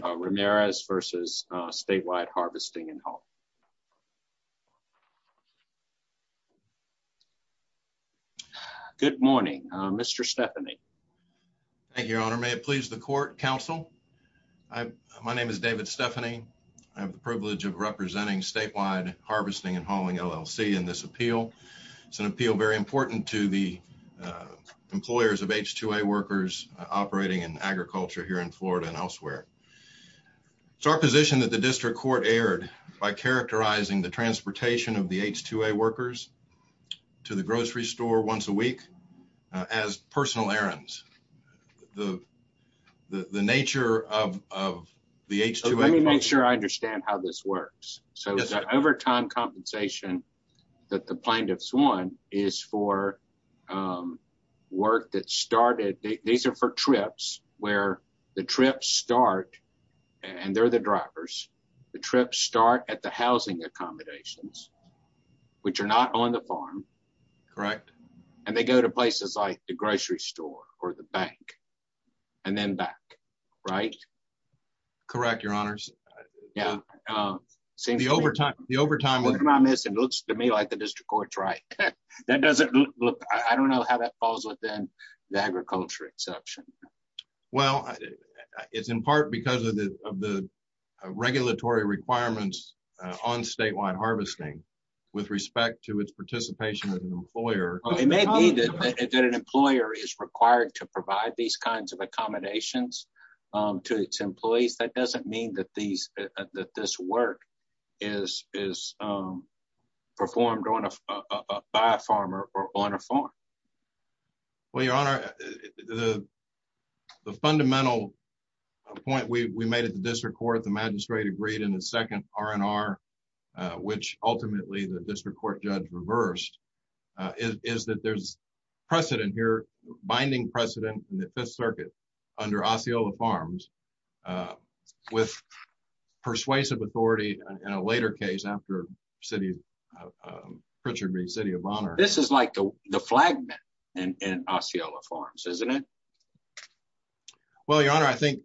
Ramirez versus Statewide Harvesting & Hauling. Good morning, Mr. Stephanie. Thank you, your honor. May it please the court, counsel. My name is David Stephanie. I have the privilege of representing Statewide Harvesting & Hauling, LLC in this appeal. It's an appeal very important to the employers of H-2A workers operating in agriculture here in Florida and elsewhere. It's our position that the district court erred by characterizing the transportation of the H-2A workers to the grocery store once a week as personal errands. The nature of the H-2A... Let me make sure I understand how this works. So the overtime compensation that the plaintiffs won is for work that started... These are for trips where the trips start and they're the drivers. The trips start at the housing accommodations which are not on the farm. Correct. And they go to places like the grocery store or the bank and then back, right? Correct, your honors. The overtime... It looks to me like the district court's right. I don't know how that falls within the agriculture exception. Well, it's in part because of the regulatory requirements on Statewide Harvesting with respect to its participation as an employer. It may be that an employer is required to provide these kinds of accommodations to its employees. That doesn't mean that this work is performed by a farmer or on a farm. Well, your honor, the fundamental point we made at the district court, the magistrate agreed in the second R&R, which ultimately the district court judge reversed, is that there's precedent here, binding precedent in the Fifth Circuit under Osceola Farms with persuasive authority in a later case after Pritchard v. City of Honor. This is like the flagman in Osceola Farms, isn't it? Well, your honor, I think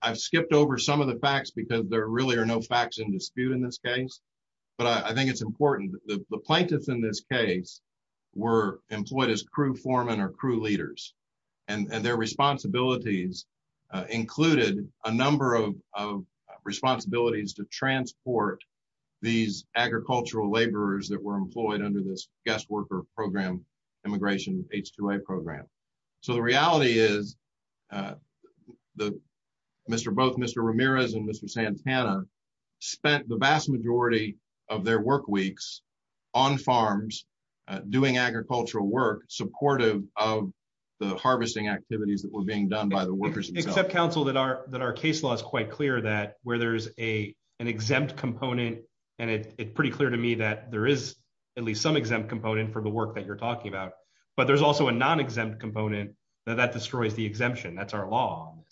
I've skipped over some of the facts because there really are no facts in dispute in this case, but I think it's important. The plaintiffs in this case were employed as crew foremen or crew leaders, and their responsibilities included a number of responsibilities to transport these agricultural laborers that were employed under this guest program. So the reality is both Mr. Ramirez and Mr. Santana spent the vast majority of their work weeks on farms doing agricultural work supportive of the harvesting activities that were being done by the workers themselves. Except, counsel, that our case law is quite clear that where there's an exempt component, and it's pretty clear to me that there is at least some exempt component for the work that you're talking about, but there's also a non-exempt component that destroys the exemption. That's our law on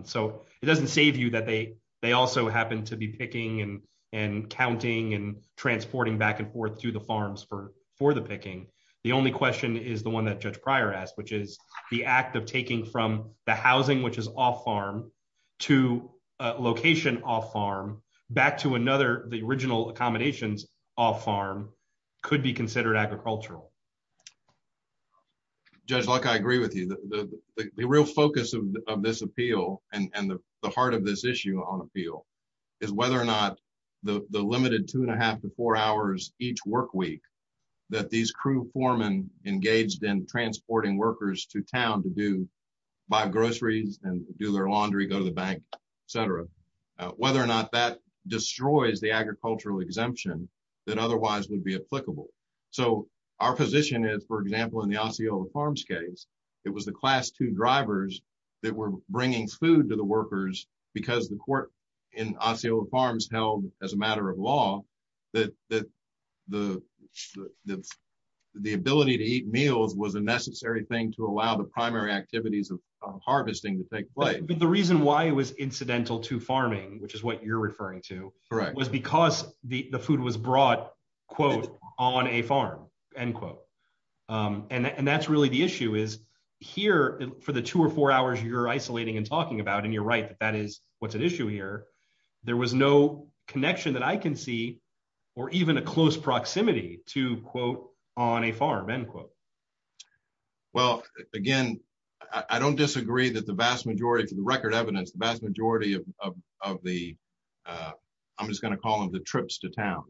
this. So it doesn't save you that they also happen to be picking and counting and transporting back and forth to the farms for the picking. The only question is the one that Judge Pryor asked, which is the act of taking from the housing which is off-farm to a location off-farm back to another, the original accommodations off-farm, could be agricultural. Judge Luck, I agree with you. The real focus of this appeal and the heart of this issue on appeal is whether or not the limited two and a half to four hours each work week that these crew foremen engaged in transporting workers to town to buy groceries and do their laundry, go to the bank, etc., whether or not that destroys the agricultural exemption that otherwise would be applicable. So our position is, for example, in the Osceola Farms case, it was the class two drivers that were bringing food to the workers because the court in Osceola Farms held as a matter of law that the ability to eat meals was a necessary thing to allow the primary activities of harvesting to take place. But the reason why it was incidental to farming, which is what you're talking about, was brought, quote, on a farm, end quote. And that's really the issue, is here for the two or four hours you're isolating and talking about, and you're right that that is what's at issue here, there was no connection that I can see or even a close proximity to, quote, on a farm, end quote. Well, again, I don't disagree that the vast majority, for the record evidence, the vast majority of of the, I'm just going to call them the trips to town,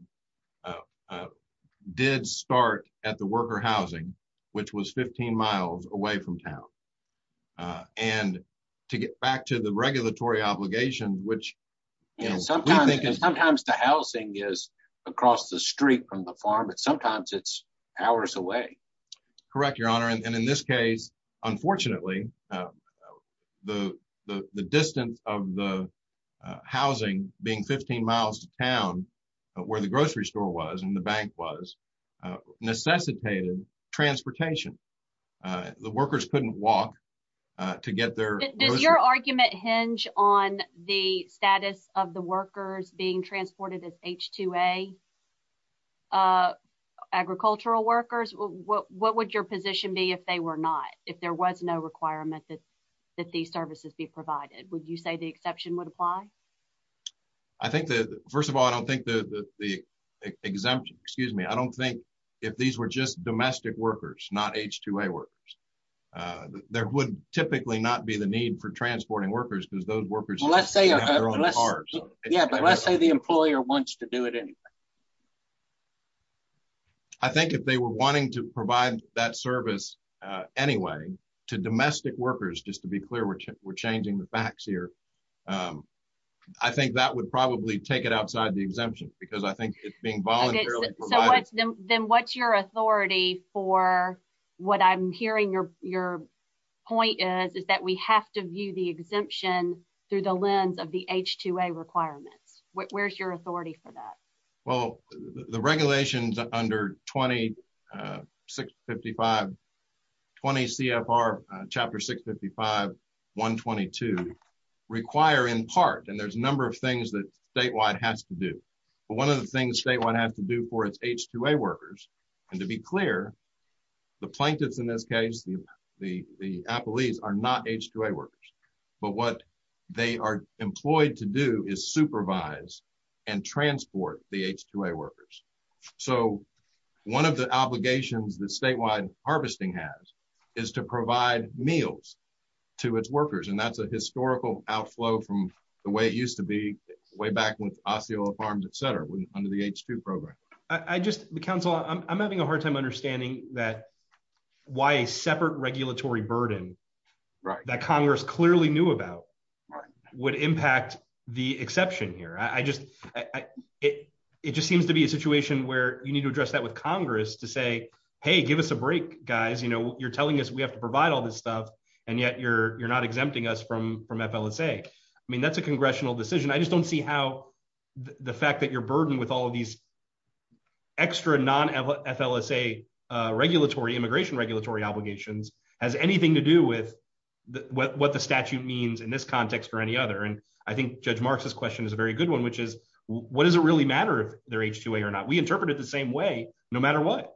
did start at the worker housing, which was 15 miles away from town. And to get back to the regulatory obligations, which, you know, sometimes and sometimes the housing is across the street from the farm, but sometimes it's hours away. Correct, Your Honor. And in this case, unfortunately, the distance of the housing being 15 miles to town where the grocery store was and the bank was necessitated transportation. The workers couldn't walk to get there. Does your argument hinge on the status of the workers being transported as H-2A agricultural workers? What would your position be if they were not, if there was no requirement that that these services be provided? Would you say the exception would apply? I think that, first of all, I don't think the the exemption, excuse me, I don't think if these were just domestic workers, not H-2A workers, there would typically not be the need for transporting workers because those workers have their own cars. Yeah, but let's say the employer wants to do it anyway. I think if they were wanting to provide that service anyway to domestic workers, just to be clear, we're changing the facts here. I think that would probably take it outside the exemption because I think it's being voluntarily provided. Then what's your authority for what I'm hearing your point is, is that we have to view the exemption through the lens of the H-2A requirements. Where's your authority for that? Well, the regulations under 20 C.F.R. Chapter 655-122 require in part, and there's a number of things that statewide has to do, but one of the things statewide has to do for its H-2A workers, and to be clear, the plaintiffs in this case, the the appellees are not H-2A workers, but what they are employed to do is supervise and transport the H-2A workers. So one of the obligations that statewide harvesting has is to provide meals to its workers, and that's a historical outflow from the way it used to be way back with Osceola Farms, etc. under the H-2 program. I just, the council, I'm having a hard time understanding that why a separate regulatory burden that Congress clearly knew about would impact the exception here. I just, it just seems to be a situation where you need to address that with Congress to say, hey, give us a break, guys. You know, you're telling us we have to provide all this stuff, and yet you're not exempting us from FLSA. I mean, that's a congressional decision. I just don't see how the fact that you're burdened with all of these extra non-FLSA regulatory, immigration regulatory obligations, has anything to do with what the statute means in this context or any other, and I think Judge Marks's question is a very good one, which is, what does it really matter if they're H-2A or not? We interpret it the same way no matter what.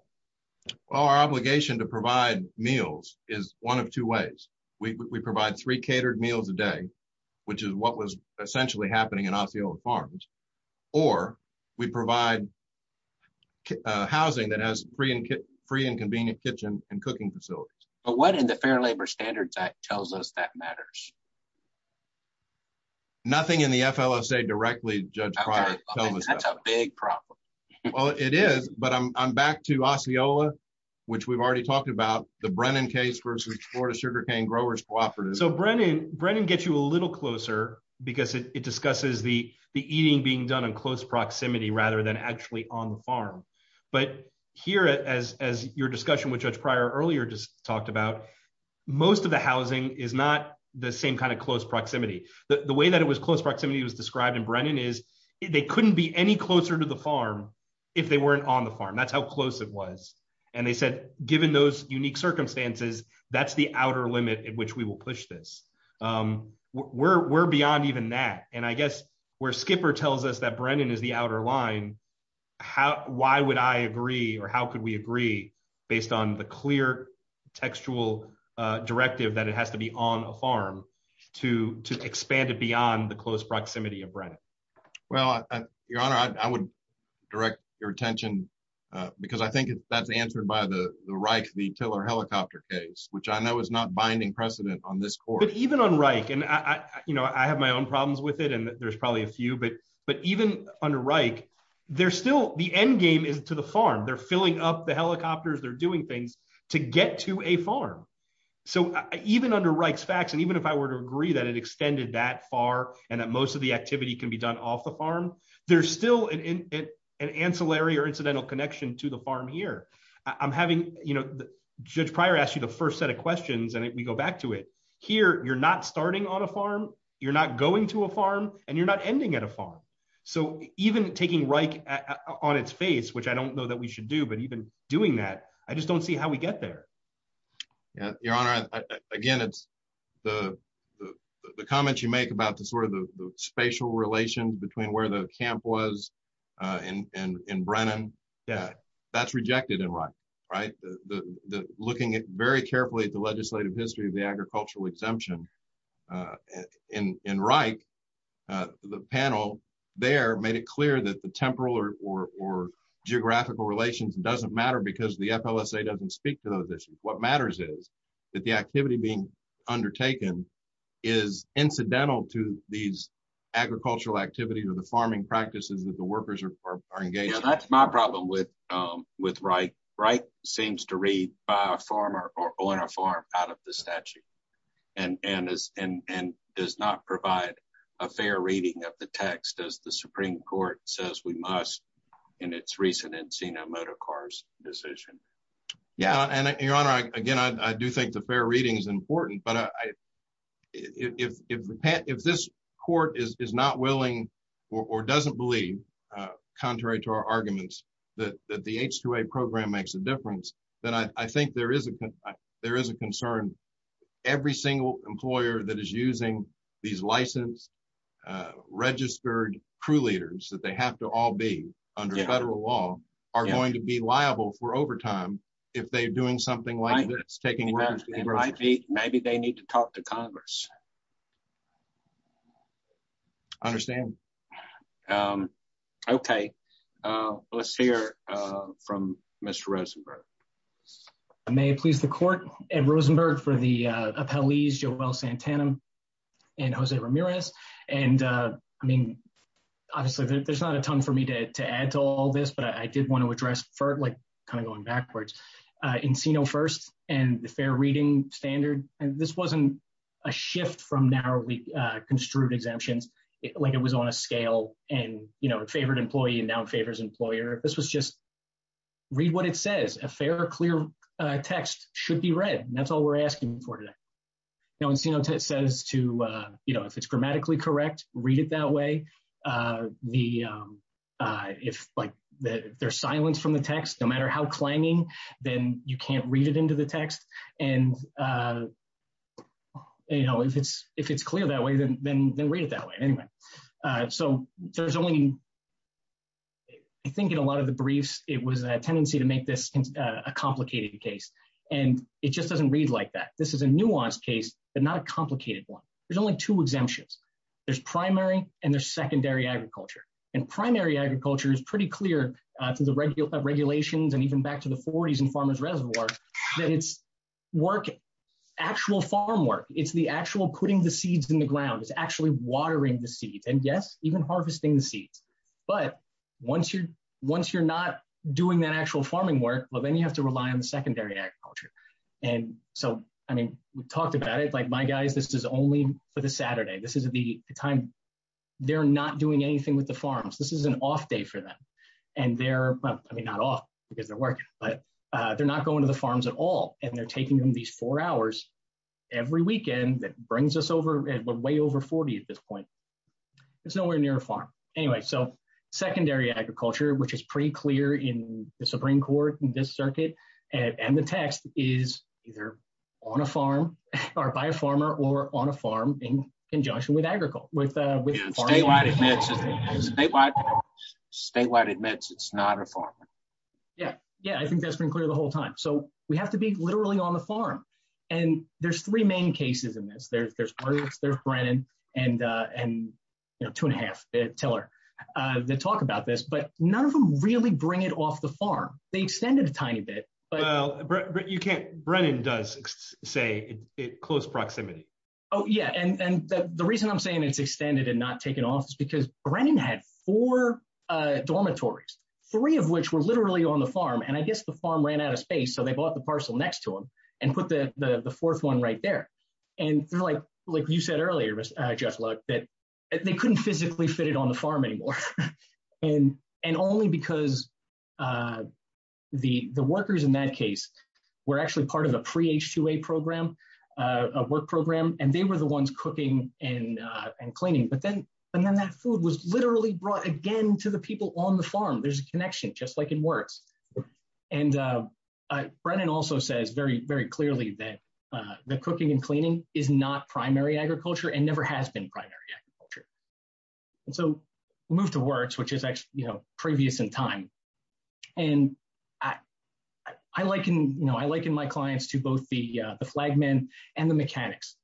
Well, our obligation to provide meals is one of two ways. We provide three catered meals a day, which is what was in Osceola Farms, or we provide housing that has free and convenient kitchen and cooking facilities. But what in the Fair Labor Standards Act tells us that matters? Nothing in the FLSA directly, Judge Pryor. That's a big problem. Well, it is, but I'm back to Osceola, which we've already talked about, the Brennan case versus Florida Sugarcane Growers Cooperative. So Brennan, Brennan gets you a little closer because it discusses the eating being done in close proximity rather than actually on the farm. But here, as your discussion with Judge Pryor earlier just talked about, most of the housing is not the same kind of close proximity. The way that it was close proximity was described in Brennan is they couldn't be any closer to the farm if they weren't on the farm. That's how close it was. And they said, given those unique circumstances, that's the outer limit at which will push this. We're beyond even that. And I guess where Skipper tells us that Brennan is the outer line, why would I agree or how could we agree based on the clear textual directive that it has to be on a farm to expand it beyond the close proximity of Brennan? Well, Your Honor, I would direct your attention because I think that's answered by the Reich, the Tiller helicopter case, which I know is not binding precedent on this court. But even on Reich, and I have my own problems with it, and there's probably a few, but even under Reich, there's still the end game is to the farm. They're filling up the helicopters, they're doing things to get to a farm. So even under Reich's facts, and even if I were to agree that it extended that far and that most of the activity can be done off the farm, there's still an ancillary or incidental connection to the farm here. I'm having, you know, Judge Pryor asked you the first set of questions, and we go back to it. Here, you're not starting on a farm, you're not going to a farm, and you're not ending at a farm. So even taking Reich on its face, which I don't know that we should do, but even doing that, I just don't see how we get there. Yeah, Your Honor, again, it's the comments you make about the sort of the spatial relations between where the camp was and Brennan. Yeah, that's rejected in Reich, right? Looking very carefully at the legislative history of the agricultural exemption in Reich, the panel there made it clear that the temporal or geographical relations doesn't matter because the FLSA doesn't speak to those issues. What matters is that the activity being the farming practices that the workers are engaged in. Yeah, that's my problem with Reich. Reich seems to read by a farmer or on a farm out of the statute and does not provide a fair reading of the text, as the Supreme Court says we must in its recent Encino-Motocars decision. Yeah, and Your Honor, again, I do think the fair reading is important, but if this court is not willing or doesn't believe, contrary to our arguments, that the H-2A program makes a difference, then I think there is a concern. Every single employer that is using these licensed, registered crew leaders that they have to all be under federal law are going to be liable for overtime if they're doing something like this, taking advantage. Maybe they need to talk to Congress. I understand. Okay, let's hear from Mr. Rosenberg. May it please the court, Ed Rosenberg for the appellees, Joel Santana and Jose Ramirez, and I mean, obviously there's not a ton for me to add to all this, but I did want to address, like kind of going backwards, Encino first and the reading standard, and this wasn't a shift from narrowly construed exemptions, like it was on a scale and, you know, it favored employee and now it favors employer. This was just read what it says. A fair, clear text should be read. That's all we're asking for today. Now, Encino says to, you know, if it's grammatically correct, read it that way. If like there's silence from the text, no matter how clanging, then you can't read it into the text, and, you know, if it's clear that way, then read it that way. Anyway, so there's only, I think in a lot of the briefs, it was a tendency to make this a complicated case, and it just doesn't read like that. This is a nuanced case, but not a complicated one. There's only two exemptions. There's primary and there's and even back to the 40s in farmers' reservoirs, that it's work, actual farm work. It's the actual putting the seeds in the ground. It's actually watering the seeds, and yes, even harvesting the seeds, but once you're not doing that actual farming work, well, then you have to rely on the secondary agriculture, and so, I mean, we talked about it, like my guys, this is only for the Saturday. This is the time they're not doing anything with the farms. This is an off day for them, and they're, I mean, not off because they're working, but they're not going to the farms at all, and they're taking them these four hours every weekend that brings us over, we're way over 40 at this point. It's nowhere near a farm. Anyway, so secondary agriculture, which is pretty clear in the Supreme Court, in this circuit, and the text is either on a farm or by a farmer or on a farm in conjunction with agriculture. Statewide admits it's not a farm. Yeah, yeah, I think that's been clear the whole time, so we have to be literally on the farm, and there's three main cases in this. There's Bryant, there's Brennan, and two and a half, Teller, that talk about this, but none of them really bring it off the farm. They extended a tiny bit, but you can't, Brennan does say it close proximity. Oh yeah, and the reason I'm saying it's extended and not taken off is because Brennan had four dormitories, three of which were literally on the farm, and I guess the farm ran out of space, so they bought the parcel next to them and put the fourth one right there, and they're like, like you said earlier, Jeff, look, that they couldn't physically fit it on the farm anymore, and only because the workers in that case were actually part of a pre-H2A program, a work program, and they were the ones cooking and cleaning, but then that food was literally brought again to the people on the farm. There's a connection, just like in WURTS, and Brennan also says very, very clearly that the cooking and cleaning is not primary agriculture and never has been primary agriculture, and so we move to WURTS, which is actually, you know, previous in time, and I liken, you know, I liken my clients to both the flagmen and the mechanics,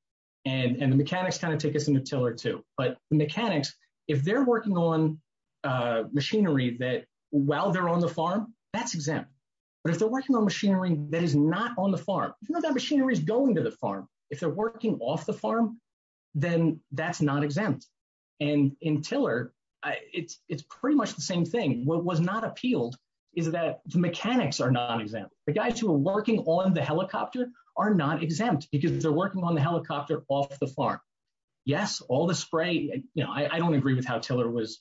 and the mechanics kind of take us in a till or two, but the mechanics, if they're working on machinery that while they're on the farm, that's exempt, but if they're working on machinery that is not on the farm, even if that machinery is going to the farm, if they're working off the farm, then that's not exempt, and in Tiller, it's pretty much the same thing. What was not appealed is that the mechanics are non-exempt. The guys who are working on the helicopter are not exempt because they're working on the helicopter off the farm. Yes, all the spray, you know, I don't agree with how Tiller was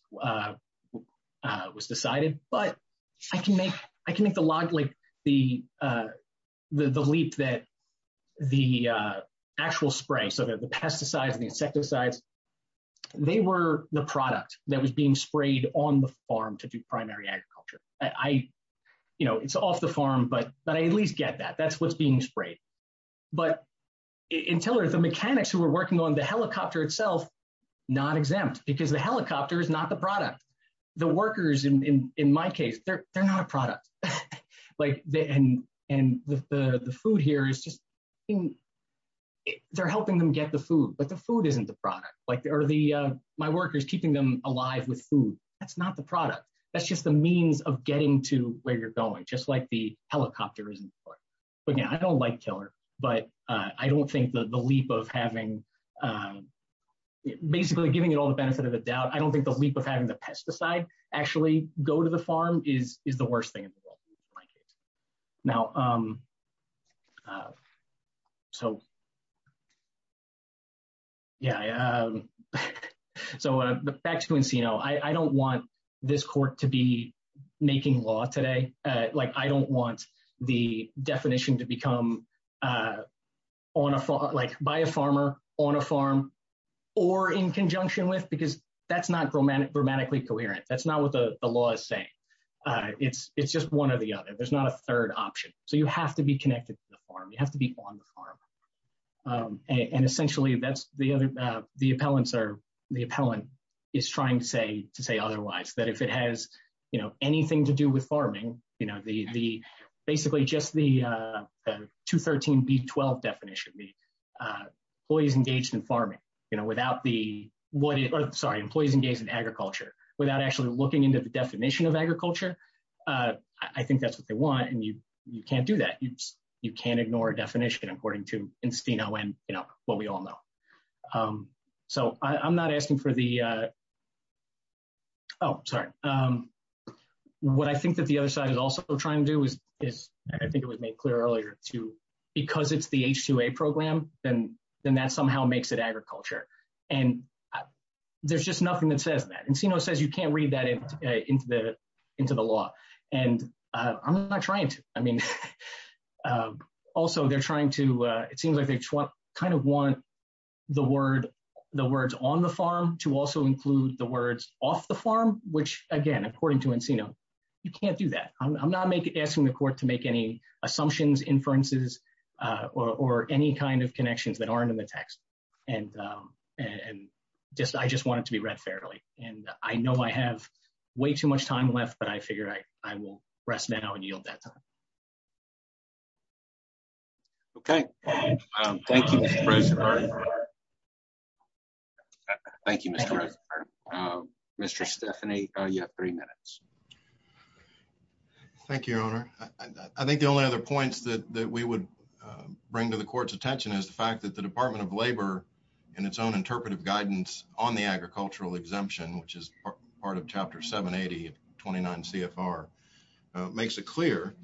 decided, but I can make the leap that the actual spray, so that the pesticides and the insecticides, they were the product that was being sprayed on the farm to do primary agriculture. I, you know, it's off the farm, but I at least get that. That's what's being sprayed, but in Tiller, the mechanics who were working on the helicopter itself, not exempt because the helicopter is not the product. The workers, in my product, and the food here is just, they're helping them get the food, but the food isn't the product, or my workers keeping them alive with food, that's not the product. That's just the means of getting to where you're going, just like the helicopter isn't. But again, I don't like Tiller, but I don't think the leap of having, basically giving it all the benefit of the doubt, I don't think the leap of having the pesticide actually go to the farm is the worst thing in the world, in my case. Now, so yeah, so back to Encino, I don't want this court to be making law today, like I don't want the definition to become on a farm, like by a farmer, on a farm, or in conjunction with, because that's not grammatically coherent, that's not what the law is saying. It's just one or the other, there's not a third option. So you have to be connected to the farm, you have to be on the farm. And essentially, that's the other, the appellants are, the appellant is trying to say otherwise, that if it has, you know, anything to do with farming, you know, basically just the 213b12 definition, employees engaged in farming, you know, without the, what, sorry, employees engaged in agriculture, without actually looking into the definition of agriculture, I think that's what they want, and you can't do that. You can't ignore a definition according to Encino and, you know, what we all know. So I'm not asking for the, oh sorry, what I think that the other side is also trying to do is, I think it was made clear earlier, too, because it's the H-2A program, then that somehow makes it agriculture. And there's just nothing that says that. Encino says you can't read that into the law, and I'm not trying to. I mean, also they're trying to, it seems like they kind of want the word, the words on the farm to also include the words off the farm, which again, according to Encino, you can't do that. I'm not asking the court to make any assumptions, inferences, or any kind of connections that aren't in the text. And I just want it to be read fairly, and I know I have way too much time left, but I figure I will rest now and yield that time. Okay, thank you, Mr. Rosenberg. Thank you, Mr. Rosenberg. Mr. Stephanie, you have three minutes. Thank you, Your Honor. I think the only other points that we would bring to the court's attention is the fact that the Department of Labor, in its own interpretive guidance on the agricultural exemption, which is part of Chapter 780 of 29 CFR, makes it clear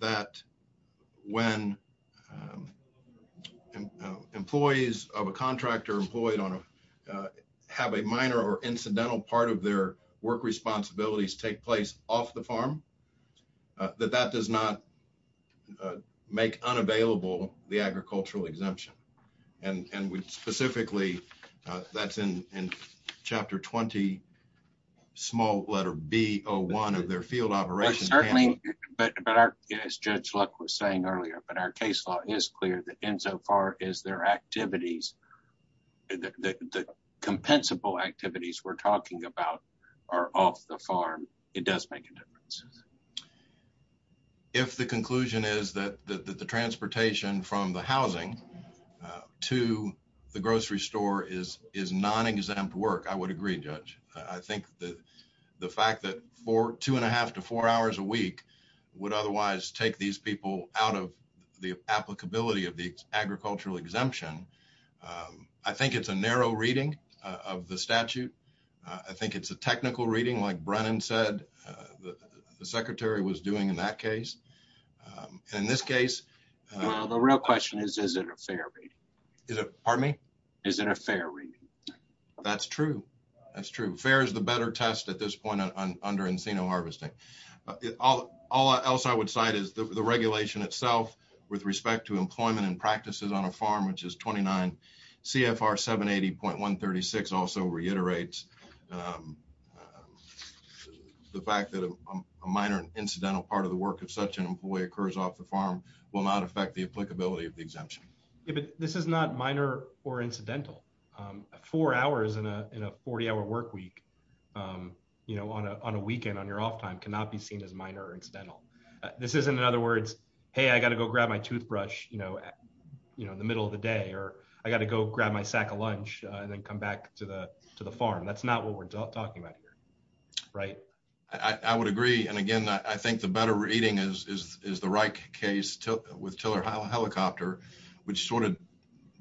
that when employees of a contractor have a minor or incidental part of their work responsibilities take place off the farm, that that does not make unavailable the agricultural exemption. And specifically, that's in Chapter 20, small letter B01 of their case law, is clear that insofar as their activities, the compensable activities we're talking about are off the farm, it does make a difference. If the conclusion is that the transportation from the housing to the grocery store is non-exempt work, I would agree, Judge. I think the fact that two and a half to four hours a week would otherwise take these people out of the applicability of the agricultural exemption, I think it's a narrow reading of the statute. I think it's a technical reading, like Brennan said the Secretary was doing in that case. In this case... Well, the real question is, is it a fair reading? Is it, pardon me? Is it a fair reading? That's true. That's true. Fair is the better test at this point under encino harvesting. All else I would cite is the regulation itself with respect to employment and practices on a farm, which is 29 CFR 780.136 also reiterates the fact that a minor incidental part of the work of such an employee occurs off the farm will not affect the applicability of the exemption. Yeah, but this is not minor or incidental. Four hours in a 40-hour work week on a weekend on your off time cannot be seen as minor or incidental. This isn't, in other words, hey, I got to go grab my toothbrush in the middle of the day, or I got to go grab my sack of lunch and then come back to the farm. That's not what we're talking about here, right? I would agree. And again, I think the better reading is the Reich case with Tiller Helicopter, which sort of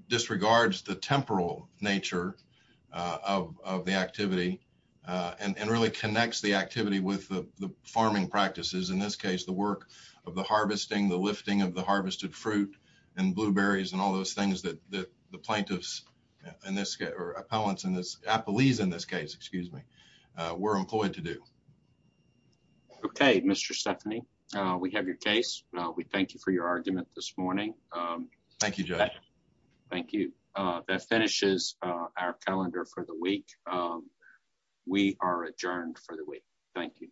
disregards the temporal nature of the activity and really connects the activity with the farming practices. In this case, the work of the harvesting, the lifting of the harvested fruit and blueberries and all those things that the plaintiffs in this case or appellants in this appellees in this case, excuse me, were employed to do. Okay, Mr. Stephanie, we have your case. We thank you for your argument this morning. Thank you, Joe. Thank you. That finishes our calendar for the week. We are adjourned for the week. Thank you.